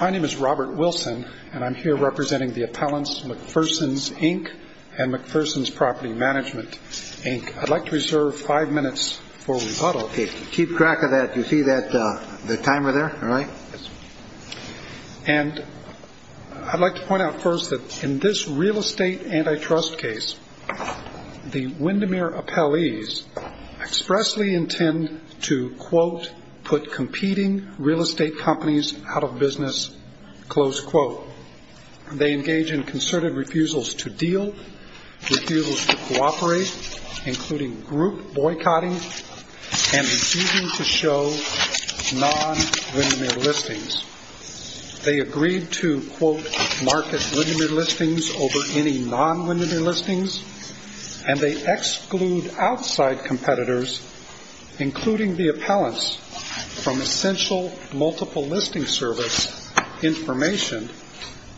My name is Robert Wilson, and I'm here representing the appellants McPherson's Inc. and McPherson's Property Management Inc. I'd like to reserve five minutes for rebuttal. Keep track of that. You see the timer there? And I'd like to point out first that in this real estate antitrust case, the Windermere appellees expressly intend to, quote, put competing real estate companies out of business, close quote. They engage in concerted refusals to deal, refusals to cooperate, including group boycotting, and refusing to show non-Windermere listings. They agreed to, quote, market Windermere listings over any non-Windermere listings, and they exclude outside competitors, including the appellants, from essential multiple listing service information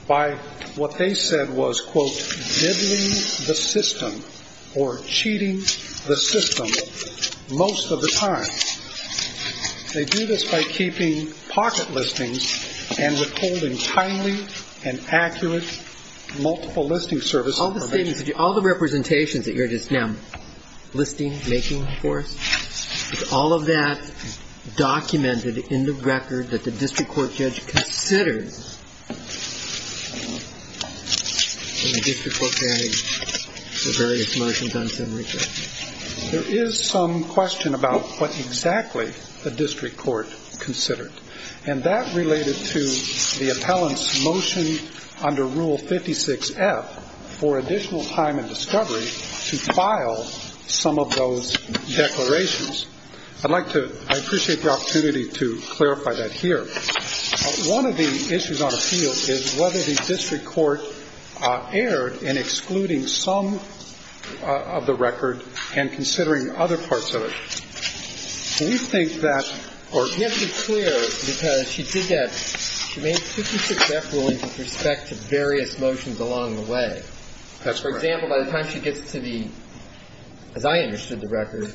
by what they said was, quote, dibbling the system or cheating the system most of the time. They do this by keeping pocket listings and withholding timely and accurate multiple listing service information. All the statements that you – all the representations that you're just now listing, making for us, is all of that documented in the record that the district court judge considers when the district court carries the various motions on summary court? There is some question about what exactly the district court considered. And that related to the appellant's motion under Rule 56F for additional time and discovery to file some of those declarations. I'd like to – I appreciate the opportunity to clarify that here. One of the issues on appeal is whether the district court erred in excluding some of the record and considering other parts of it. Can you state that, Court? You have to be clear, because she did that – she made 56F ruling with respect to various motions along the way. That's correct. For example, by the time she gets to the – as I understood the record,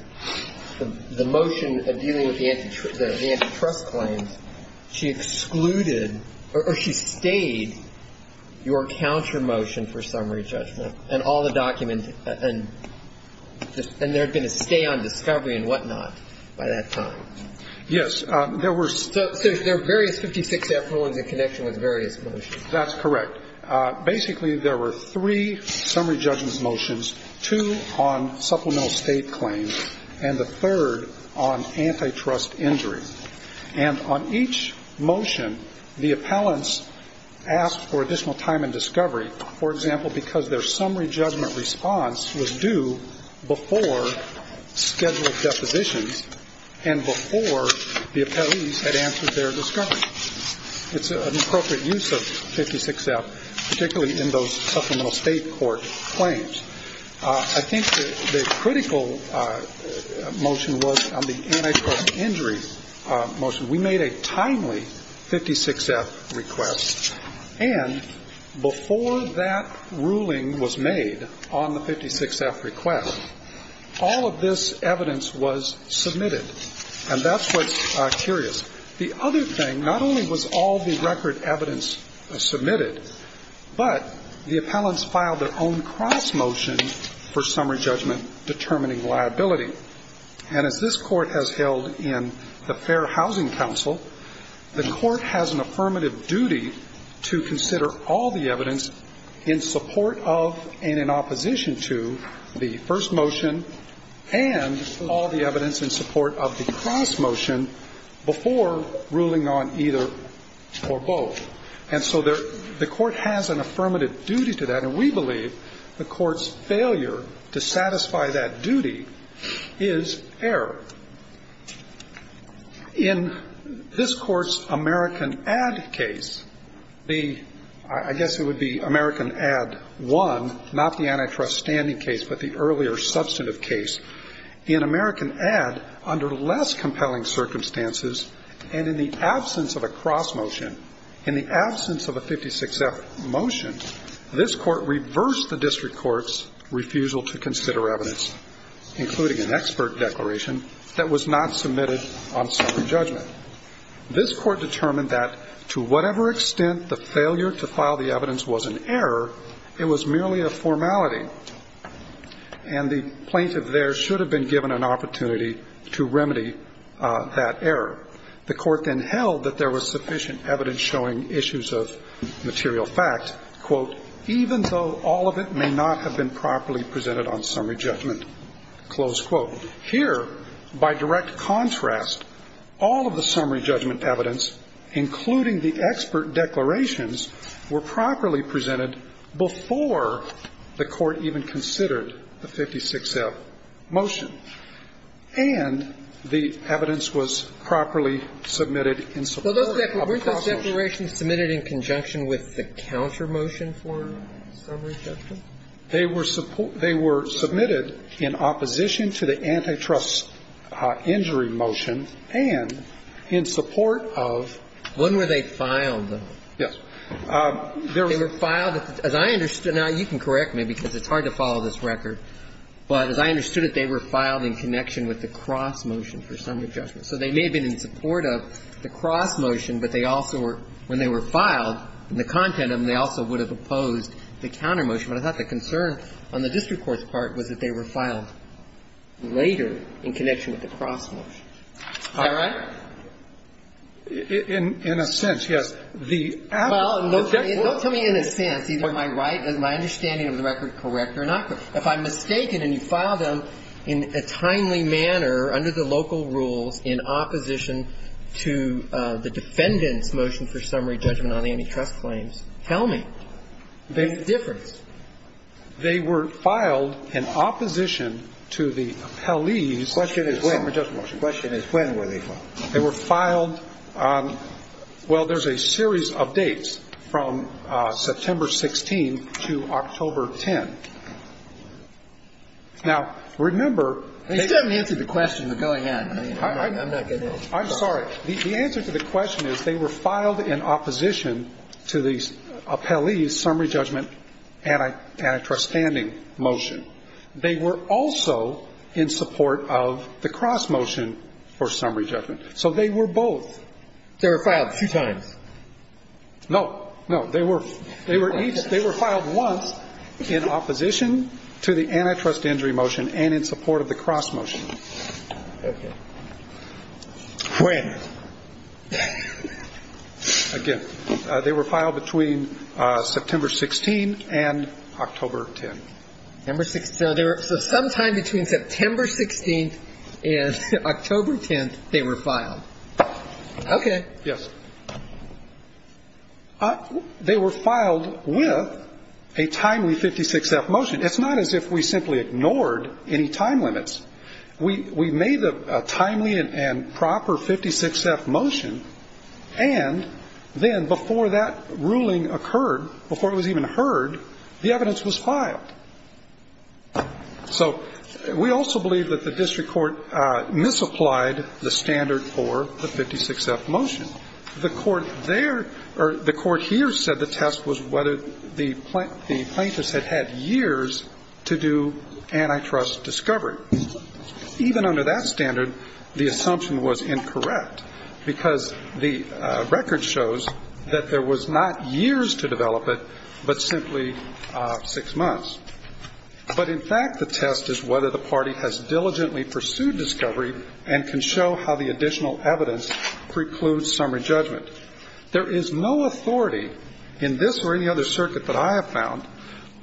the motion dealing with the antitrust claims, she excluded or she stayed your counter motion for summary judgment. And all the documents – and there had been a stay on discovery and whatnot by that time. Yes. There were – So there are various 56F rulings in connection with various motions. That's correct. Basically, there were three summary judgment motions, two on supplemental state claims, and the third on antitrust injuries. And on each motion, the appellants asked for additional time and discovery, for example, because their summary judgment response was due before scheduled depositions and before the appellees had answered their discovery. It's an appropriate use of 56F, particularly in those supplemental state court claims. I think the critical motion was on the antitrust injury motion. We made a timely 56F request. And before that ruling was made on the 56F request, all of this evidence was submitted. And that's what's curious. The other thing, not only was all the record evidence submitted, but the appellants filed their own cross motion for summary judgment determining liability. And as this Court has held in the Fair Housing Council, the Court has an affirmative duty to consider all the evidence in support of and in opposition to the first motion and all the evidence in support of the cross motion before ruling on either or both. And so the Court has an affirmative duty to that, and we believe the Court's failure to satisfy that duty is error. In this Court's American Add case, the – I guess it would be American Add 1, not the antitrust standing case, but the earlier substantive case. In American Add, under less compelling circumstances, and in the absence of a cross motion, in the absence of a 56F motion, this Court reversed the district court's refusal to consider evidence, including an expert declaration that was not submitted on summary judgment. This Court determined that to whatever extent the failure to file the evidence was an error, it was merely a formality, and the plaintiff there should have been given an opportunity to remedy that error. The Court then held that there was sufficient evidence showing issues of material fact, quote, even though all of it may not have been properly presented on summary judgment, close quote. Here, by direct contrast, all of the summary judgment evidence, including the expert declarations, were properly presented before the Court even considered the 56F motion. And the evidence was properly submitted in support of cross motion. Well, weren't those declarations submitted in conjunction with the counter motion for summary judgment? They were submitted in opposition to the antitrust injury motion and in support of? When were they filed, though? Yes. They were filed as I understood them. Now, you can correct me, because it's hard to follow this record. But as I understood it, they were filed in connection with the cross motion for summary judgment. So they may have been in support of the cross motion, but they also were, when they were filed and the content of them, they also would have opposed the counter motion. But I thought the concern on the district court's part was that they were filed later in connection with the cross motion. Is that right? In a sense, yes. The appellee. Well, don't tell me in a sense, either am I right, is my understanding of the record correct or not correct. If I'm mistaken and you file them in a timely manner under the local rules in opposition to the defendant's motion for summary judgment on antitrust claims, tell me. They were filed in opposition to the appellee's summary judgment motion. The question is when were they filed. They were filed, well, there's a series of dates from September 16th to October 10th. Now, remember. They still haven't answered the question. They're going in. I'm not going to. I'm sorry. The answer to the question is they were filed in opposition to the appellee's summary judgment antitrust standing motion. They were also in support of the cross motion for summary judgment. So they were both. They were filed two times. No. No. They were each. They were filed once in opposition to the antitrust injury motion and in support of the cross motion. Okay. When? Again, they were filed between September 16th and October 10th. September 16th. So sometime between September 16th and October 10th they were filed. Okay. Yes. They were filed with a timely 56-F motion. It's not as if we simply ignored any time limits. We made a timely and proper 56-F motion, and then before that ruling occurred, before it was even heard, the evidence was filed. So we also believe that the district court misapplied the standard for the 56-F motion. The court there or the court here said the test was whether the plaintiffs had had years to do antitrust discovery. Even under that standard, the assumption was incorrect because the record shows that there was not years to develop it, but simply six months. But, in fact, the test is whether the party has diligently pursued discovery and can show how the additional evidence precludes summary judgment. There is no authority in this or any other circuit that I have found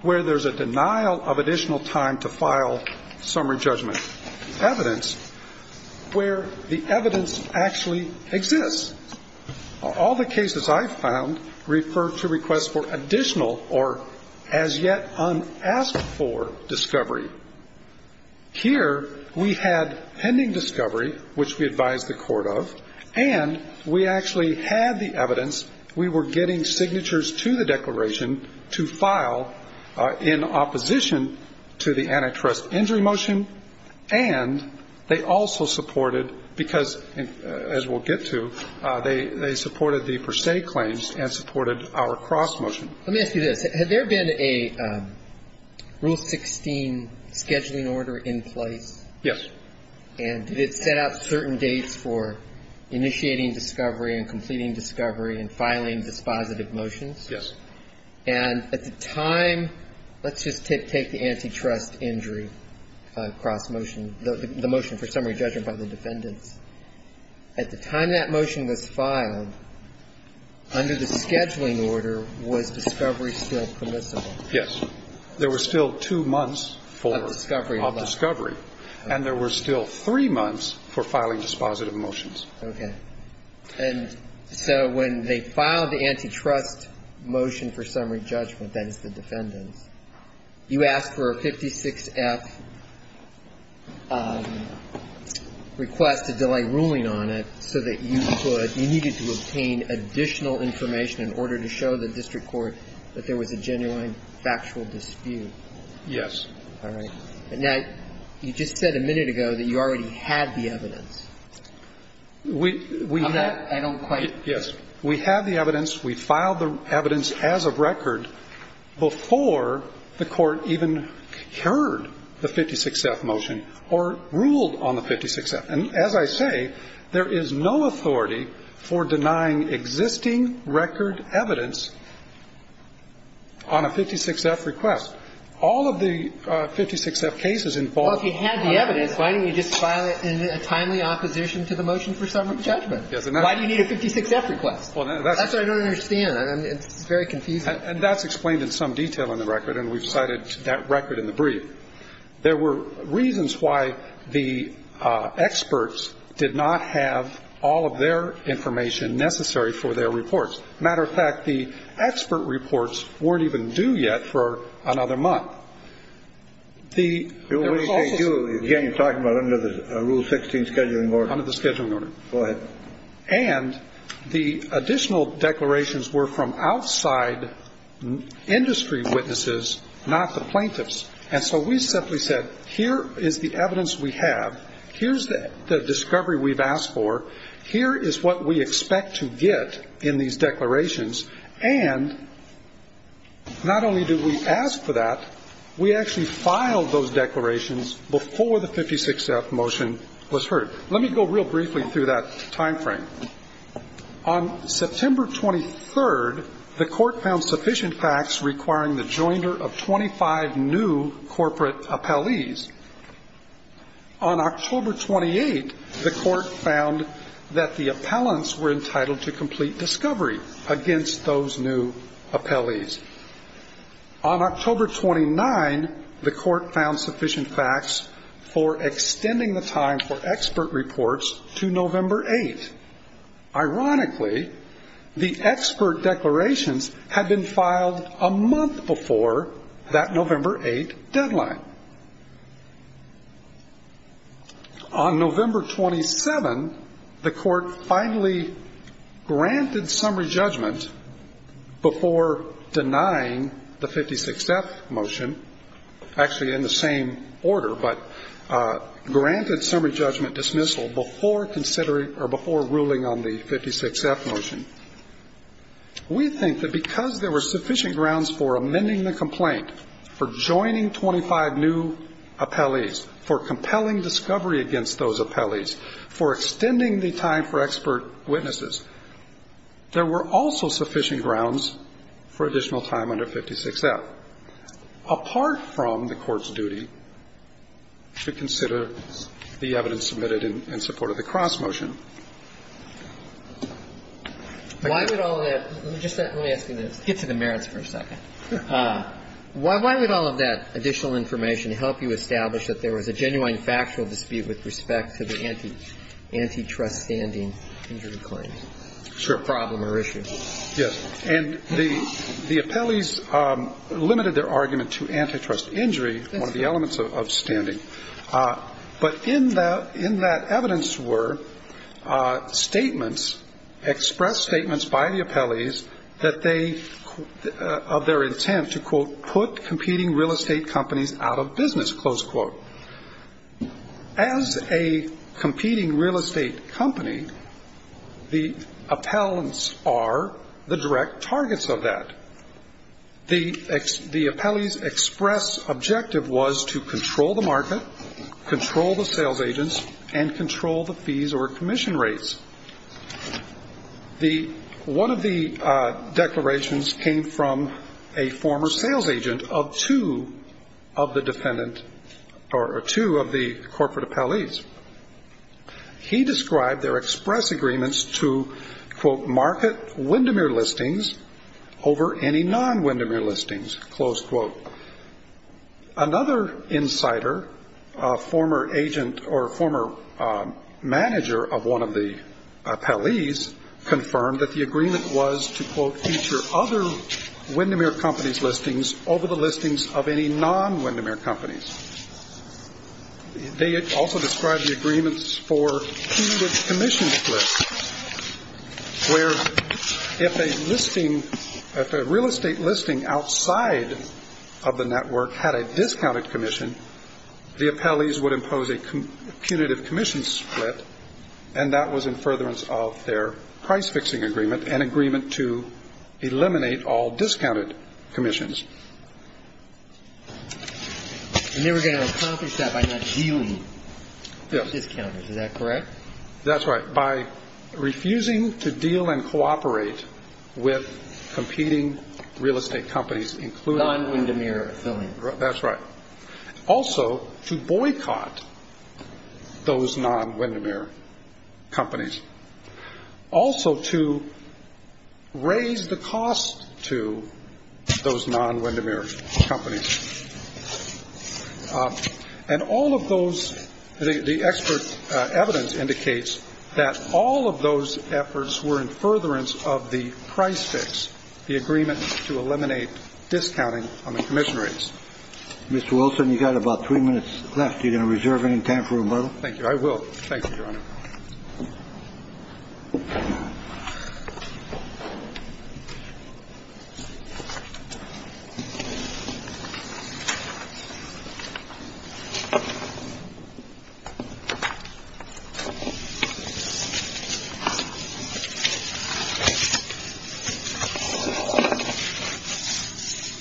where there's a denial of additional time to file summary judgment evidence where the evidence actually exists. All the cases I've found refer to requests for additional or as yet unasked for discovery. Here we had pending discovery, which we advised the court of, and we actually had the evidence. We were getting signatures to the declaration to file in opposition to the antitrust injury motion, and they also supported, because as we'll get to, they supported the per se claims and supported our cross motion. Let me ask you this. Had there been a Rule 16 scheduling order in place? Yes. And did it set out certain dates for initiating discovery and completing discovery and filing dispositive motions? Yes. And at the time, let's just take the antitrust injury cross motion, the motion for summary judgment by the defendants. At the time that motion was filed, under the scheduling order, was discovery still permissible? Yes. There were still two months for discovery. Of discovery. And there were still three months for filing dispositive motions. Okay. And so when they filed the antitrust motion for summary judgment, that is the defendants, you asked for a 56F request to delay ruling on it so that you could, you needed to obtain additional information in order to show the district court that there was a genuine factual dispute. Yes. All right. Now, you just said a minute ago that you already had the evidence. We have. I don't quite. Yes. We have the evidence. We filed the evidence as of record before the Court even heard the 56F motion or ruled on the 56F. And as I say, there is no authority for denying existing record evidence on a 56F request. All of the 56F cases involved. Well, if you had the evidence, why didn't you just file it in a timely opposition to the motion for summary judgment? Why do you need a 56F request? That's what I don't understand. It's very confusing. And that's explained in some detail in the record, and we've cited that record in the brief. There were reasons why the experts did not have all of their information necessary for their reports. Matter of fact, the expert reports weren't even due yet for another month. Again, you're talking about under the Rule 16 scheduling order. Under the scheduling order. Go ahead. And the additional declarations were from outside industry witnesses, not the plaintiffs. And so we simply said, here is the evidence we have. Here's the discovery we've asked for. Here is what we expect to get in these declarations. And not only did we ask for that, we actually filed those declarations before the 56F motion was heard. Let me go real briefly through that time frame. On September 23rd, the Court found sufficient facts requiring the joinder of 25 new corporate appellees. On October 28th, the Court found that the appellants were entitled to complete discovery against those new appellees. On October 29th, the Court found sufficient facts for extending the time for expert reports to November 8th. Ironically, the expert declarations had been filed a month before that November 8th deadline. On November 27th, the Court finally granted summary judgment before denying the 56F motion, actually in the same order, but granted summary judgment dismissal before considering or before ruling on the 56F motion. We think that because there were sufficient grounds for amending the complaint for joining 25 new appellees, for compelling discovery against those appellees, for extending the time for expert witnesses, there were also sufficient grounds for additional time under 56F, apart from the Court's duty to consider the evidence submitted in support of the Cross motion. Why would all of that – let me ask you this. Get to the merits for a second. Why would all of that additional information help you establish that there was a genuine factual dispute with respect to the antitrust standing injury claim? Sure. Problem or issue. Yes. And the appellees limited their argument to antitrust injury, one of the elements of standing. But in that evidence were statements, express statements by the appellees that they – of their intent to, quote, put competing real estate companies out of business, close quote. As a competing real estate company, the appellants are the direct targets of that. The appellee's express objective was to control the market, control the sales agents, and control the fees or commission rates. The – one of the declarations came from a former sales agent of two of the defendant or two of the corporate appellees. He described their express agreements to, quote, market Windermere listings over any non-Windermere listings, close quote. Another insider, a former agent or former manager of one of the appellees, confirmed that the agreement was to, quote, feature other Windermere companies' listings over the listings of any non-Windermere companies. They also described the agreements for punitive commission splits, where if a listing – if a real estate listing outside of the network had a discounted commission, the appellees would impose a punitive commission split, and that was in furtherance of their price fixing agreement, an agreement to eliminate all discounted commissions. And they were going to accomplish that by not dealing with discounters. Is that correct? That's right. By refusing to deal and cooperate with competing real estate companies, including – Non-Windermere affiliates. That's right. Also to boycott those non-Windermere companies. Also to raise the cost to those non-Windermere companies. And all of those – the expert evidence indicates that all of those efforts were in furtherance of the price fix, the agreement to eliminate discounting on the commission rates. Mr. Wilson, you've got about three minutes left. Are you going to reserve any time for rebuttal? Thank you. I will. Thank you, Your Honor.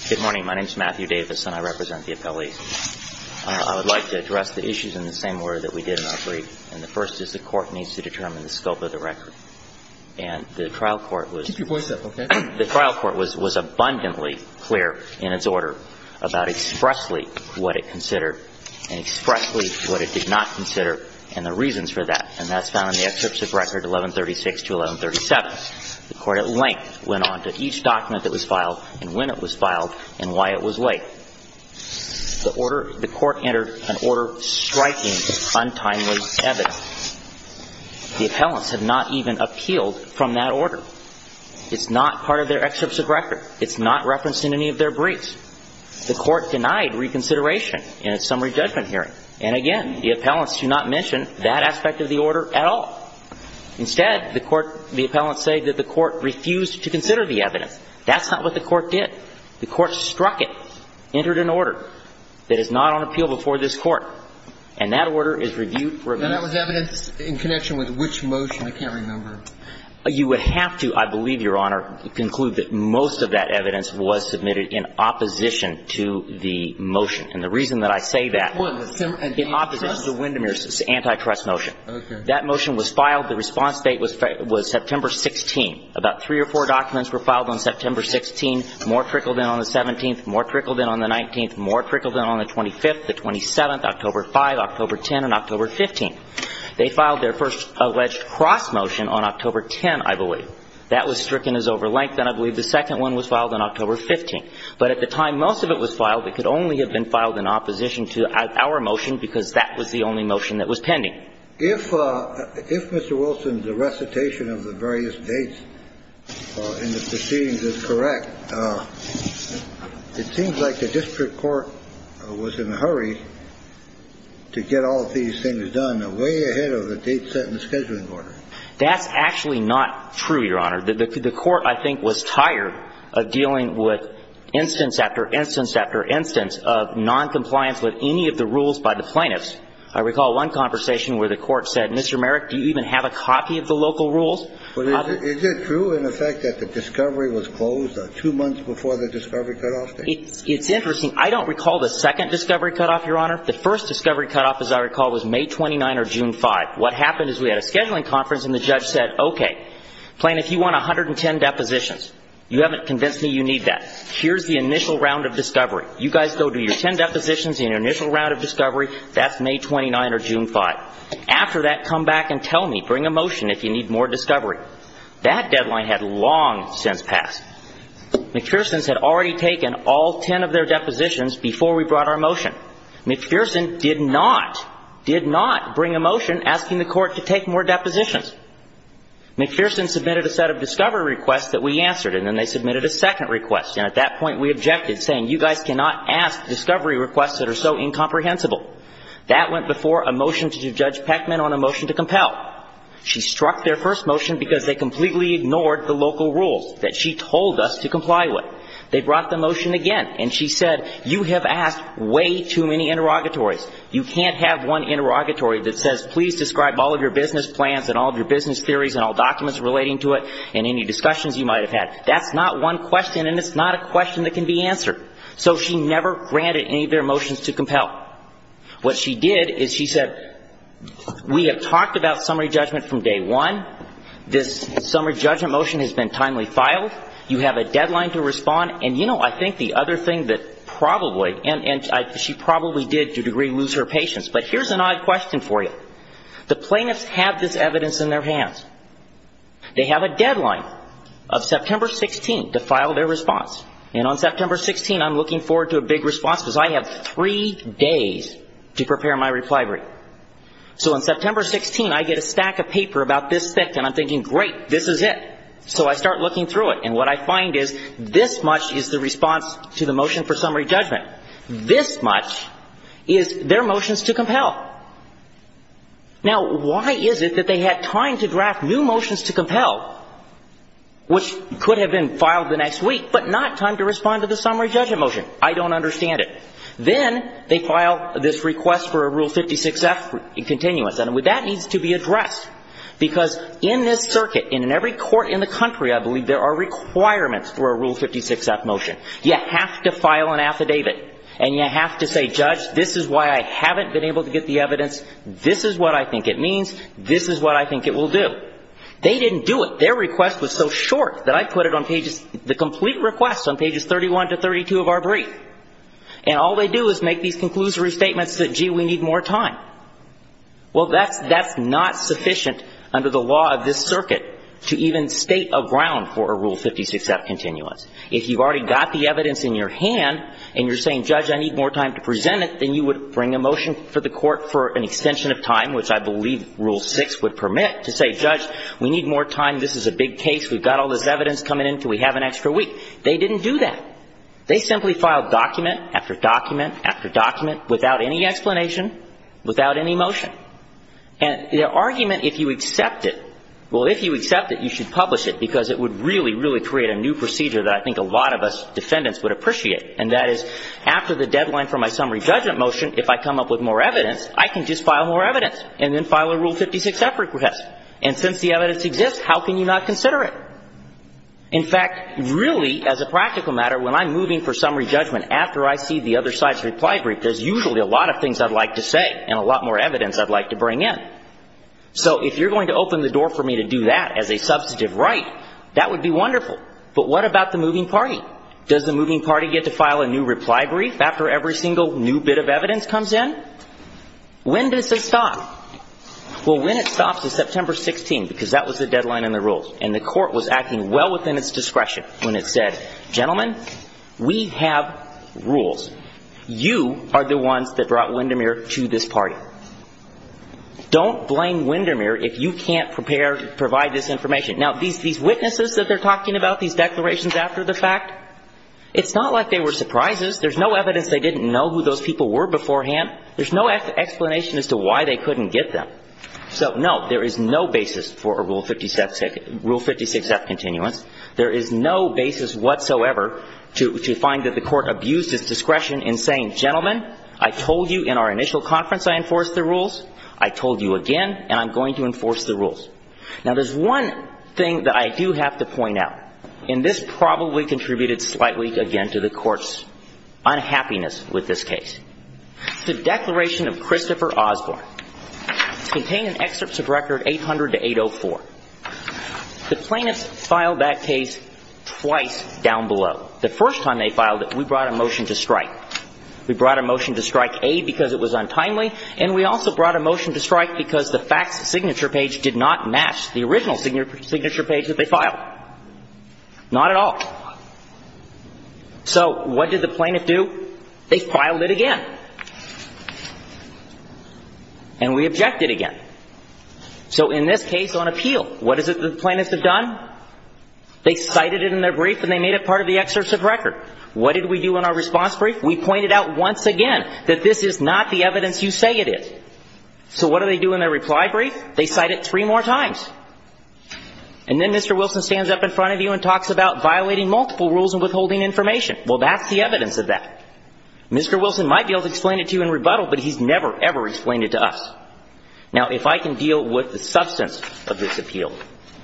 Good morning. My name is Matthew Davis, and I represent the appellees. I would like to address the issues in the same order that we did in our brief. And the first is the Court needs to determine the scope of the record. And the trial court was – Keep your voice up, okay? The trial court was abundantly clear in its order about expressly what it considered and expressly what it did not consider and the reasons for that. And that's found in the excerpts of record 1136 to 1137. The Court at length went on to each document that was filed and when it was filed and why it was late. The order – the Court entered an order striking untimely evidence. The appellants have not even appealed from that order. It's not part of their excerpts of record. It's not referenced in any of their briefs. The Court denied reconsideration in its summary judgment hearing. And, again, the appellants do not mention that aspect of the order at all. Instead, the Court – the appellants say that the Court refused to consider the evidence. That's not what the Court did. The Court struck it, entered an order that is not on appeal before this Court, and that order is reviewed. And that was evidence in connection with which motion? I can't remember. You would have to, I believe, Your Honor, conclude that most of that evidence was submitted in opposition to the motion. And the reason that I say that – Well, the antitrust – In opposition to Windemere's antitrust motion. Okay. That motion was filed. The response date was September 16. About three or four documents were filed on September 16. More trickled in on the 17th. More trickled in on the 19th. More trickled in on the 25th, the 27th, October 5, October 10, and October 15. They filed their first alleged cross motion on October 10, I believe. That was stricken as overlength, and I believe the second one was filed on October 15. But at the time most of it was filed, it could only have been filed in opposition to our motion because that was the only motion that was pending. If Mr. Wilson's recitation of the various dates in the proceedings is correct, it seems like the district court was in a hurry to get all of these things done way ahead of the date set in the scheduling order. That's actually not true, Your Honor. The court, I think, was tired of dealing with instance after instance after instance of noncompliance with any of the rules by the plaintiffs. I recall one conversation where the court said, Mr. Merrick, do you even have a copy of the local rules? Is it true in effect that the discovery was closed two months before the discovery cutoff date? It's interesting. I don't recall the second discovery cutoff, Your Honor. The first discovery cutoff, as I recall, was May 29 or June 5. What happened is we had a scheduling conference and the judge said, okay, plaintiff, you want 110 depositions. You haven't convinced me you need that. Here's the initial round of discovery. You guys go do your 10 depositions in your initial round of discovery. That's May 29 or June 5. After that, come back and tell me. Bring a motion if you need more discovery. That deadline had long since passed. McPherson's had already taken all 10 of their depositions before we brought our motion. McPherson did not, did not bring a motion asking the court to take more depositions. McPherson submitted a set of discovery requests that we answered, and then they submitted a second request, and at that point we objected, saying you guys cannot ask discovery requests that are so incomprehensible. That went before a motion to judge Peckman on a motion to compel. She struck their first motion because they completely ignored the local rules that she told us to comply with. They brought the motion again, and she said you have asked way too many interrogatories. You can't have one interrogatory that says please describe all of your business plans and all of your business theories and all documents relating to it and any discussions you might have had. That's not one question, and it's not a question that can be answered. So she never granted any of their motions to compel. What she did is she said we have talked about summary judgment from day one. This summary judgment motion has been timely filed. You have a deadline to respond. And, you know, I think the other thing that probably, and she probably did to a degree lose her patience, but here's an odd question for you. The plaintiffs have this evidence in their hands. They have a deadline of September 16th to file their response. And on September 16th, I'm looking forward to a big response because I have three days to prepare my reply brief. So on September 16th, I get a stack of paper about this thick, and I'm thinking great, this is it. So I start looking through it, and what I find is this much is the response to the motion for summary judgment. This much is their motions to compel. Now, why is it that they had time to draft new motions to compel, which could have been I don't understand it. Then they file this request for a Rule 56-F continuous, and that needs to be addressed because in this circuit, and in every court in the country, I believe there are requirements for a Rule 56-F motion. You have to file an affidavit, and you have to say, Judge, this is why I haven't been able to get the evidence. This is what I think it means. This is what I think it will do. They didn't do it. Their request was so short that I put it on pages, the complete request on pages 31 to 32 of our brief. And all they do is make these conclusory statements that, gee, we need more time. Well, that's not sufficient under the law of this circuit to even state a ground for a Rule 56-F continuous. If you've already got the evidence in your hand, and you're saying, Judge, I need more time to present it, then you would bring a motion for the court for an extension of time, which I believe Rule 6 would permit, to say, Judge, we need more time. This is a big case. We've got all this evidence coming in until we have an extra week. They didn't do that. They simply filed document after document after document without any explanation, without any motion. And the argument, if you accept it, well, if you accept it, you should publish it, because it would really, really create a new procedure that I think a lot of us defendants would appreciate, and that is, after the deadline for my summary judgment motion, if I come up with more evidence, I can just file more evidence and then file a Rule 56-F request. And since the evidence exists, how can you not consider it? In fact, really, as a practical matter, when I'm moving for summary judgment, after I see the other side's reply brief, there's usually a lot of things I'd like to say and a lot more evidence I'd like to bring in. So if you're going to open the door for me to do that as a substantive right, that would be wonderful. But what about the moving party? Does the moving party get to file a new reply brief after every single new bit of evidence comes in? When does it stop? Well, when it stops is September 16, because that was the deadline in the rules, and the Court was acting well within its discretion when it said, gentlemen, we have rules. You are the ones that brought Windermere to this party. Don't blame Windermere if you can't prepare to provide this information. Now, these witnesses that they're talking about, these declarations after the fact, it's not like they were surprises. There's no evidence they didn't know who those people were beforehand. There's no explanation as to why they couldn't get them. So, no, there is no basis for a Rule 56F continuance. There is no basis whatsoever to find that the Court abused its discretion in saying, gentlemen, I told you in our initial conference I enforced the rules. I told you again, and I'm going to enforce the rules. Now, there's one thing that I do have to point out, and this probably contributed slightly, again, to the Court's unhappiness with this case. The declaration of Christopher Osborne contained an excerpt of record 800-804. The plaintiffs filed that case twice down below. The first time they filed it, we brought a motion to strike. We brought a motion to strike, A, because it was untimely, and we also brought a motion to strike because the facts signature page did not match the original signature page that they filed. Not at all. So what did the plaintiff do? They filed it again. And we objected again. So in this case, on appeal, what is it the plaintiffs have done? They cited it in their brief, and they made it part of the excerpt of record. What did we do in our response brief? We pointed out once again that this is not the evidence you say it is. So what do they do in their reply brief? They cite it three more times. And then Mr. Wilson stands up in front of you and talks about violating multiple rules and withholding information. Well, that's the evidence of that. Mr. Wilson might be able to explain it to you in rebuttal, but he's never, ever explained it to us. Now, if I can deal with the substance of this appeal,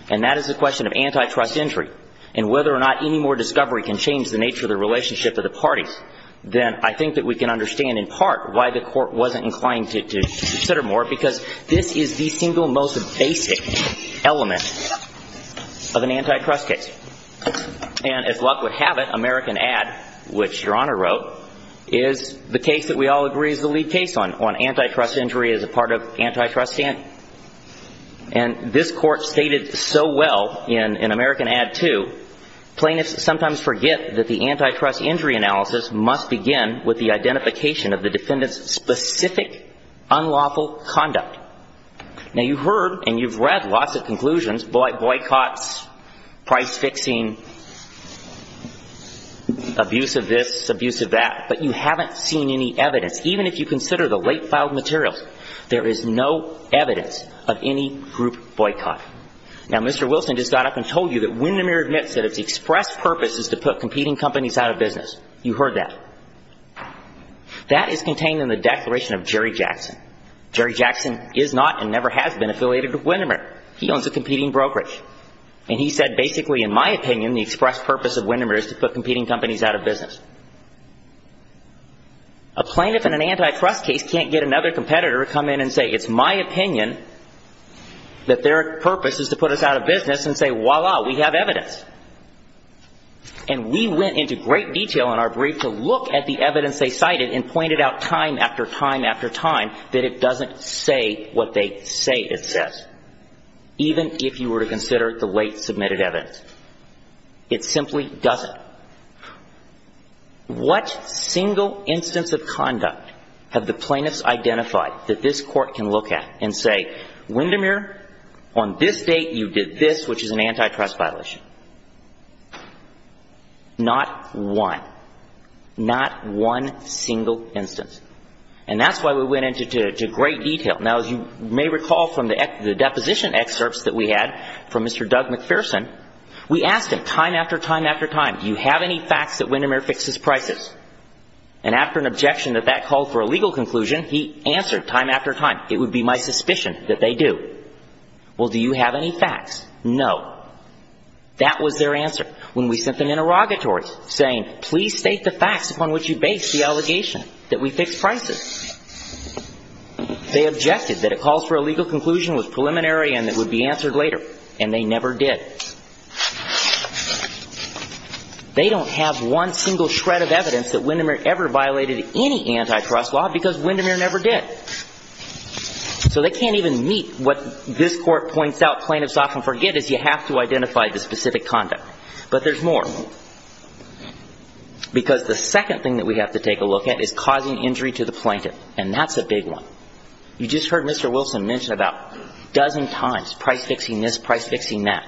and that is the question of antitrust entry and whether or not any more discovery can change the nature of the relationship of the parties, then I think that we can understand in part why the court wasn't inclined to consider more because this is the single most basic element of an antitrust case. And as luck would have it, American Ad, which Your Honor wrote, is the case that we all agree is the lead case on antitrust injury as a part of antitrust stand. And this court stated so well in American Ad 2, plaintiffs sometimes forget that the antitrust injury analysis must begin with the identification of the defendant's specific unlawful conduct. Now, you've heard and you've read lots of conclusions, boycotts, price fixing, abuse of this, abuse of that, but you haven't seen any evidence. Even if you consider the late filed materials, there is no evidence of any group boycott. Now, Mr. Wilson just got up and told you that Windermere admits that its express purpose is to put competing companies out of business. You heard that. That is contained in the Declaration of Jerry Jackson. Jerry Jackson is not and never has been affiliated with Windermere. He owns a competing brokerage. And he said, basically, in my opinion, the express purpose of Windermere is to put competing companies out of business. A plaintiff in an antitrust case can't get another competitor to come in and say, it's my opinion that their purpose is to put us out of business and say, voila, we have evidence. And we went into great detail in our brief to look at the evidence they cited and say what they say it says. Even if you were to consider the late submitted evidence. It simply doesn't. What single instance of conduct have the plaintiffs identified that this court can look at and say, Windermere, on this date you did this, which is an antitrust violation. Not one. Not one single instance. And that's why we went into great detail. Now, as you may recall from the deposition excerpts that we had from Mr. Doug McPherson, we asked him time after time after time, do you have any facts that Windermere fixes prices? And after an objection that that called for a legal conclusion, he answered time after time, it would be my suspicion that they do. Well, do you have any facts? No. That was their answer. When we sent them interrogatories saying, please state the facts upon which you base the allegation that we fixed prices, they objected that it calls for a legal conclusion with preliminary and it would be answered later. And they never did. They don't have one single shred of evidence that Windermere ever violated any antitrust law because Windermere never did. So they can't even meet what this court points out plaintiffs often forget is you have to identify the specific conduct. But there's more. Because the second thing that we have to take a look at is causing injury to the plaintiff. And that's a big one. You just heard Mr. Wilson mention about a dozen times, price-fixing this, price-fixing that.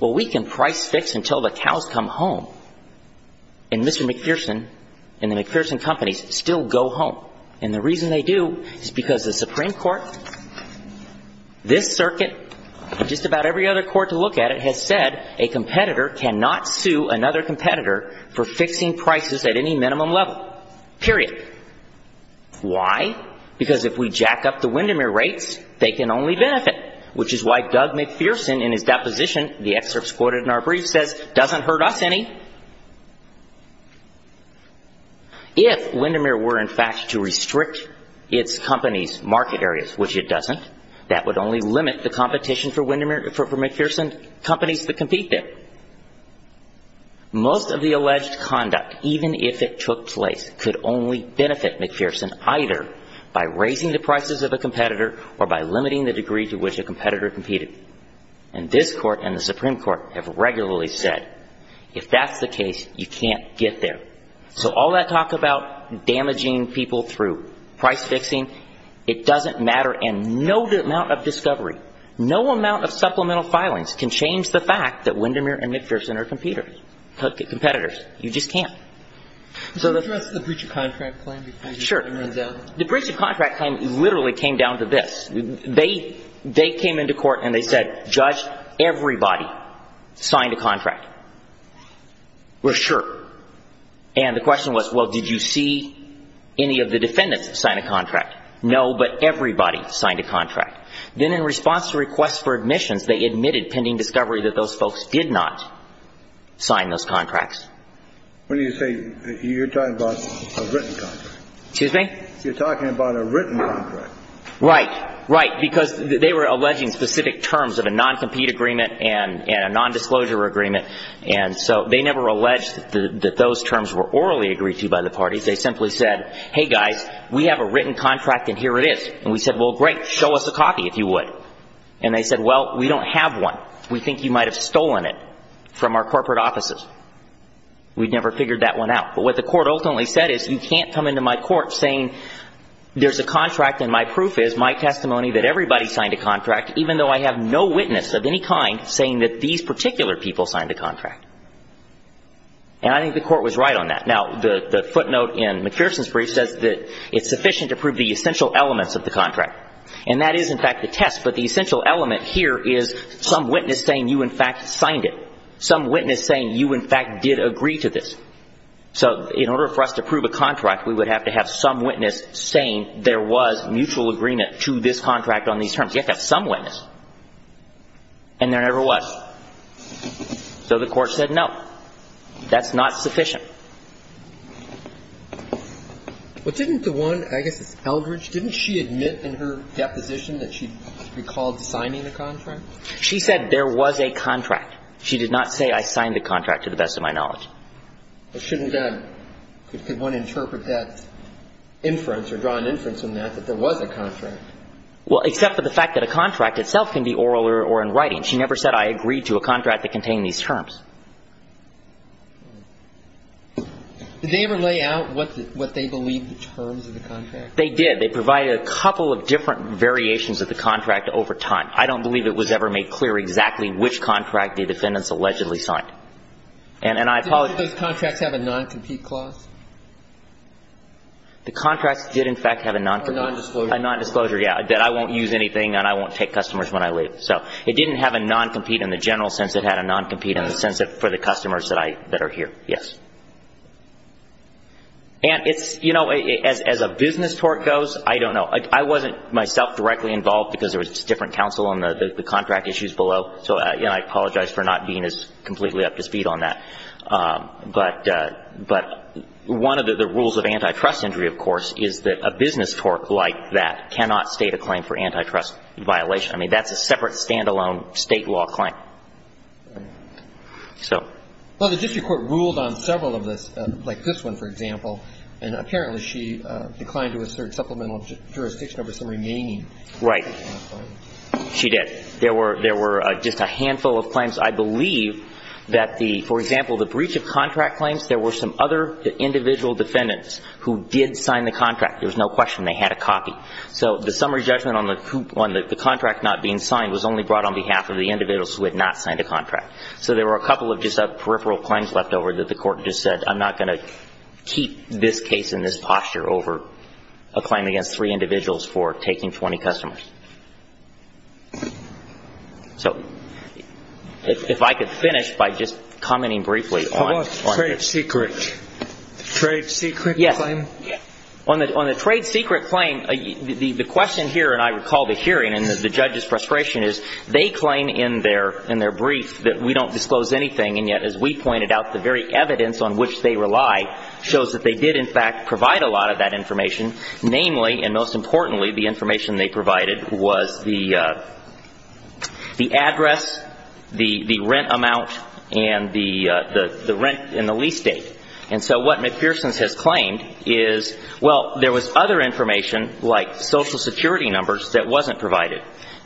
Well, we can price-fix until the cows come home. And Mr. McPherson and the McPherson companies still go home. And the reason they do is because the Supreme Court, this circuit, and just about every other court to look at it has said a competitor cannot sue another competitor for fixing prices at any minimum level. Period. Why? Because if we jack up the Windermere rates, they can only benefit. Which is why Doug McPherson in his deposition, the excerpt is quoted in our brief, says doesn't hurt us any. If Windermere were in fact to restrict its company's market areas, which it doesn't, that would only limit the competition for McPherson companies to compete there. Most of the alleged conduct, even if it took place, could only benefit McPherson either by raising the prices of a competitor or by limiting the degree to which a competitor competed. And this court and the Supreme Court have regularly said if that's the case, you can't get there. So all that talk about damaging people through price-fixing, it doesn't matter. And no amount of discovery, no amount of supplemental filings can change the fact that Windermere and McPherson are competitors. You just can't. Can you address the breach of contract claim? Sure. The breach of contract claim literally came down to this. They came into court and they said, judge, everybody signed a contract. We're sure. And the question was, well, did you see any of the defendants sign a contract? No, but everybody signed a contract. Then in response to requests for admissions, they admitted pending discovery that those folks did not sign those contracts. What do you say? You're talking about a written contract. Excuse me? You're talking about a written contract. Right. Right. Because they were alleging specific terms of a non-compete agreement and a nondisclosure agreement. And so they never alleged that those terms were orally agreed to by the parties. They simply said, hey, guys, we have a written contract and here it is. And we said, well, great, show us a copy if you would. And they said, well, we don't have one. We think you might have stolen it from our corporate offices. We never figured that one out. But what the court ultimately said is you can't come into my court saying there's a contract and my proof is my testimony that everybody signed a contract even though I have no witness of any kind saying that these particular people signed a contract. And I think the court was right on that. Now, the footnote in McPherson's brief says that it's sufficient to prove the essential elements of the contract. And that is, in fact, the test. But the essential element here is some witness saying you, in fact, signed it. Some witness saying you, in fact, did agree to this. So in order for us to prove a contract, we would have to have some witness saying there was mutual agreement to this contract on these terms. You have to have some witness. And there never was. So the court said no. That's not sufficient. But didn't the one, I guess it's Eldridge, didn't she admit in her deposition that she recalled signing the contract? She said there was a contract. She did not say I signed the contract to the best of my knowledge. But shouldn't that one interpret that inference or draw an inference on that that there was a contract? Well, except for the fact that a contract itself can be oral or in writing. She never said I agreed to a contract that contained these terms. Did they ever lay out what they believed the terms of the contract? They did. They provided a couple of different variations of the contract over time. I don't believe it was ever made clear exactly which contract the defendants allegedly signed. And I apologize. Did those contracts have a non-compete clause? The contracts did, in fact, have a non-compete. A non-disclosure. A non-disclosure, yes, that I won't use anything and I won't take customers when I leave. So it didn't have a non-compete in the general sense. It had a non-compete in the sense for the customers that are here. Yes. And it's, you know, as a business tort goes, I don't know. I wasn't myself directly involved because there was different counsel on the contract issues below. So, you know, I apologize for not being as completely up to speed on that. But one of the rules of antitrust injury, of course, is that a business tort like that cannot state a claim for antitrust violation. I mean, that's a separate, stand-alone state law claim. Right. So. Well, the district court ruled on several of this, like this one, for example. And apparently she declined to assert supplemental jurisdiction over some remaining claims. Right. She did. There were just a handful of claims. I believe that the, for example, the breach of contract claims, there were some other individual defendants who did sign the contract. There was no question. They had a copy. So the summary judgment on the contract not being signed was only brought on behalf of the individuals who had not signed a contract. So there were a couple of just peripheral claims left over that the court just said, I'm not going to keep this case in this posture over a claim against three individuals for taking 20 customers. So if I could finish by just commenting briefly. Trade secret. Trade secret claim. On the trade secret claim, the question here, and I recall the hearing and the judge's frustration, is they claim in their brief that we don't disclose anything. And yet, as we pointed out, the very evidence on which they rely shows that they did, in fact, provide a lot of that information. Namely, and most importantly, the information they provided was the address, the rent amount, and the rent and the lease date. And so what McPherson has claimed is, well, there was other information like social security numbers that wasn't provided.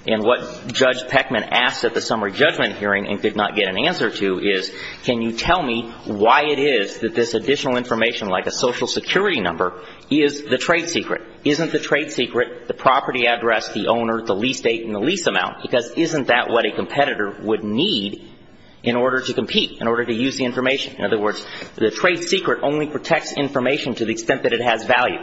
And what Judge Peckman asked at the summary judgment hearing and did not get an answer to is, can you tell me why it is that this additional information like a social security number is the trade secret? Isn't the trade secret the property address, the owner, the lease date, and the lease amount? Because isn't that what a competitor would need in order to compete, in order to use the information? In other words, the trade secret only protects information to the extent that it has value.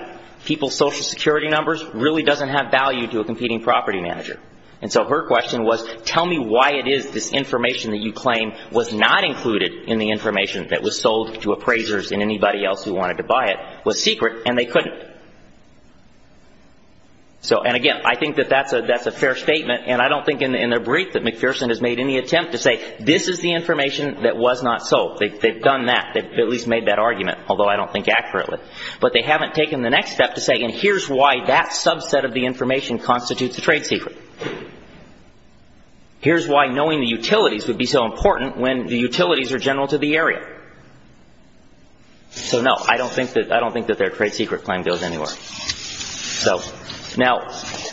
People's social security numbers really doesn't have value to a competing property manager. And so her question was, tell me why it is this information that you claim was not included in the information that was sold to appraisers and anybody else who wanted to buy it was secret, and they couldn't. So, and again, I think that that's a fair statement, and I don't think in their brief that McPherson has made any attempt to say, this is the information that was not sold. They've done that. They've at least made that argument, although I don't think accurately. But they haven't taken the next step to say, and here's why that subset of the information constitutes a trade secret. Here's why knowing the utilities would be so important when the utilities are general to the area. So, no, I don't think that their trade secret claim goes anywhere. So, now,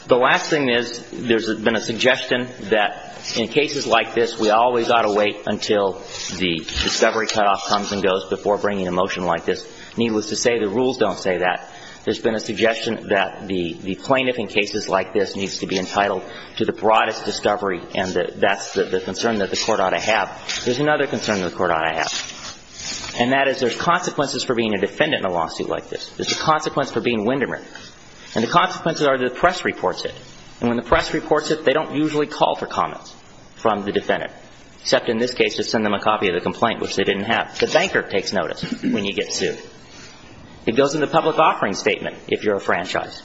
the last thing is, there's been a suggestion that in cases like this, we always ought to wait until the discovery cutoff comes and goes before bringing a motion like this. Needless to say, the rules don't say that. There's been a suggestion that the plaintiff in cases like this needs to be entitled to the broadest discovery, and that's the concern that the Court ought to have. There's another concern that the Court ought to have, and that is there's consequences for being a defendant in a lawsuit like this. There's a consequence for being Windermere. And the consequences are that the press reports it. And when the press reports it, they don't usually call for comments from the defendant. Except in this case, just send them a copy of the complaint, which they didn't have. The banker takes notice when you get sued. It goes in the public offering statement if you're a franchise.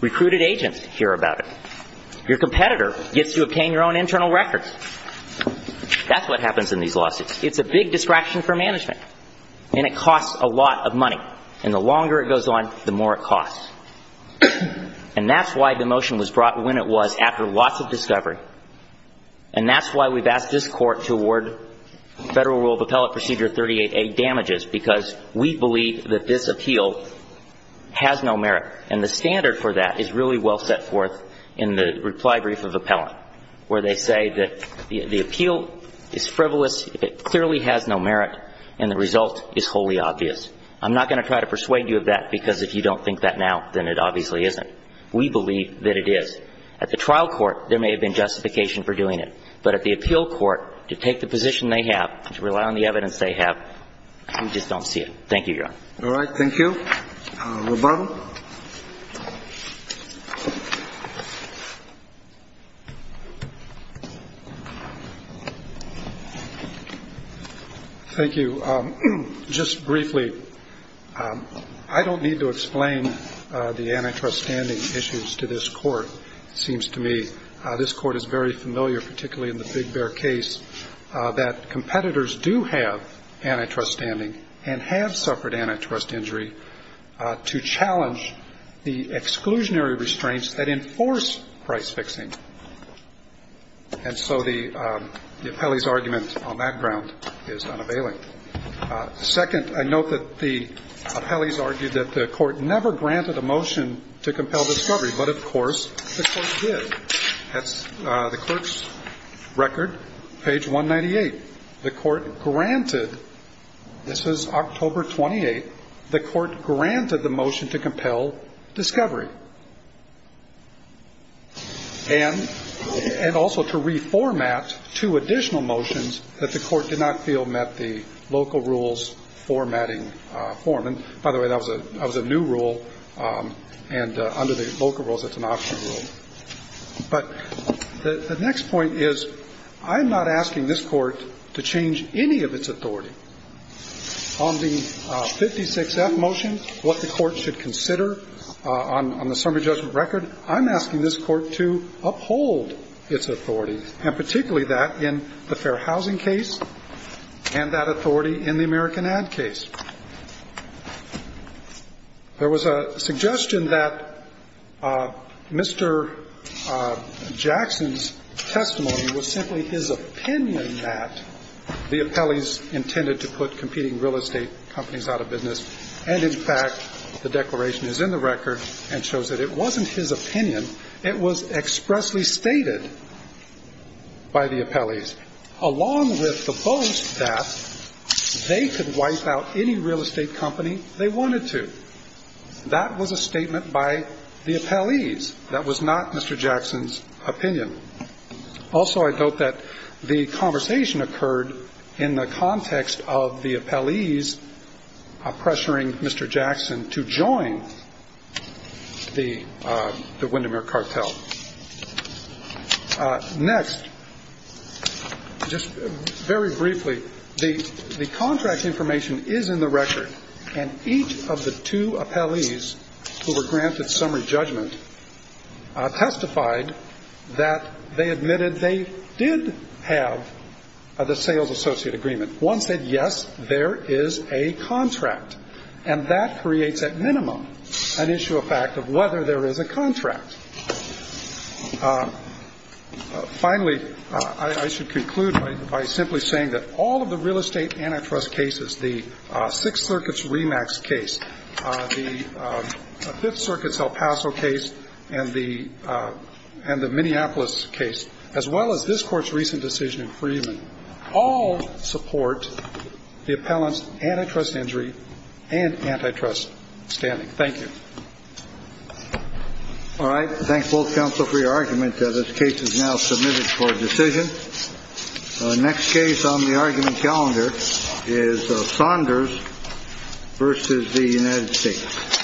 Recruited agents hear about it. Your competitor gets to obtain your own internal records. That's what happens in these lawsuits. It's a big distraction for management. And it costs a lot of money. And the longer it goes on, the more it costs. And that's why the motion was brought when it was, after lots of discovery. And that's why we've asked this Court to award Federal Rule of Appellate Procedure 38A damages, because we believe that this appeal has no merit. And the standard for that is really well set forth in the reply brief of appellant, where they say that the appeal is frivolous, it clearly has no merit, and the result is wholly obvious. I'm not going to try to persuade you of that, because if you don't think that now, then it obviously isn't. We believe that it is. At the trial court, there may have been justification for doing it. But at the appeal court, to take the position they have, to rely on the evidence they have, we just don't see it. Thank you, Your Honor. All right. Thank you. Roboto. Thank you. So just briefly, I don't need to explain the antitrust standing issues to this Court, it seems to me. This Court is very familiar, particularly in the Big Bear case, that competitors do have antitrust standing and have suffered antitrust injury to challenge the exclusionary restraints that enforce price fixing. And so the appellee's argument on that ground is unavailing. Second, I note that the appellee's argued that the Court never granted a motion to compel discovery. But, of course, the Court did. That's the Court's record, page 198. The Court granted, this is October 28th, the Court granted the motion to compel discovery. And also to reformat two additional motions that the Court did not feel met the local rules formatting form. And, by the way, that was a new rule, and under the local rules, it's an optional rule. But the next point is, I'm not asking this Court to change any of its authority on the 56F motion, what the Court should consider on the 56F motion. On the summary judgment record, I'm asking this Court to uphold its authority, and particularly that in the fair housing case and that authority in the American ad case. There was a suggestion that Mr. Jackson's testimony was simply his opinion that the appellee's intended to put competing real estate companies out of business, and, in fact, the declaration is in the record and shows that it wasn't his opinion. It was expressly stated by the appellees, along with the boast that they could wipe out any real estate company they wanted to. That was a statement by the appellees. That was not Mr. Jackson's opinion. Also, I note that the conversation occurred in the context of the appellee's pressuring Mr. Jackson to join the Windermere cartel. Next, just very briefly, the contract information is in the record, and each of the two appellees who were granted summary judgment testified that they admitted they did have the sales associate agreement. One said, yes, there is a contract. And that creates, at minimum, an issue of fact of whether there is a contract. Finally, I should conclude by simply saying that all of the real estate antitrust cases, the Sixth Circuit's Remax case, the Fifth Circuit's El Paso case, and the Minneapolis case, as well as this Court's recent decision in Freeman, all support the appellant's antitrust injury and antitrust standing. Thank you. All right. I thank both counsel for your argument. This case is now submitted for decision. The next case on the argument calendar is Saunders v. the United States. Thank you.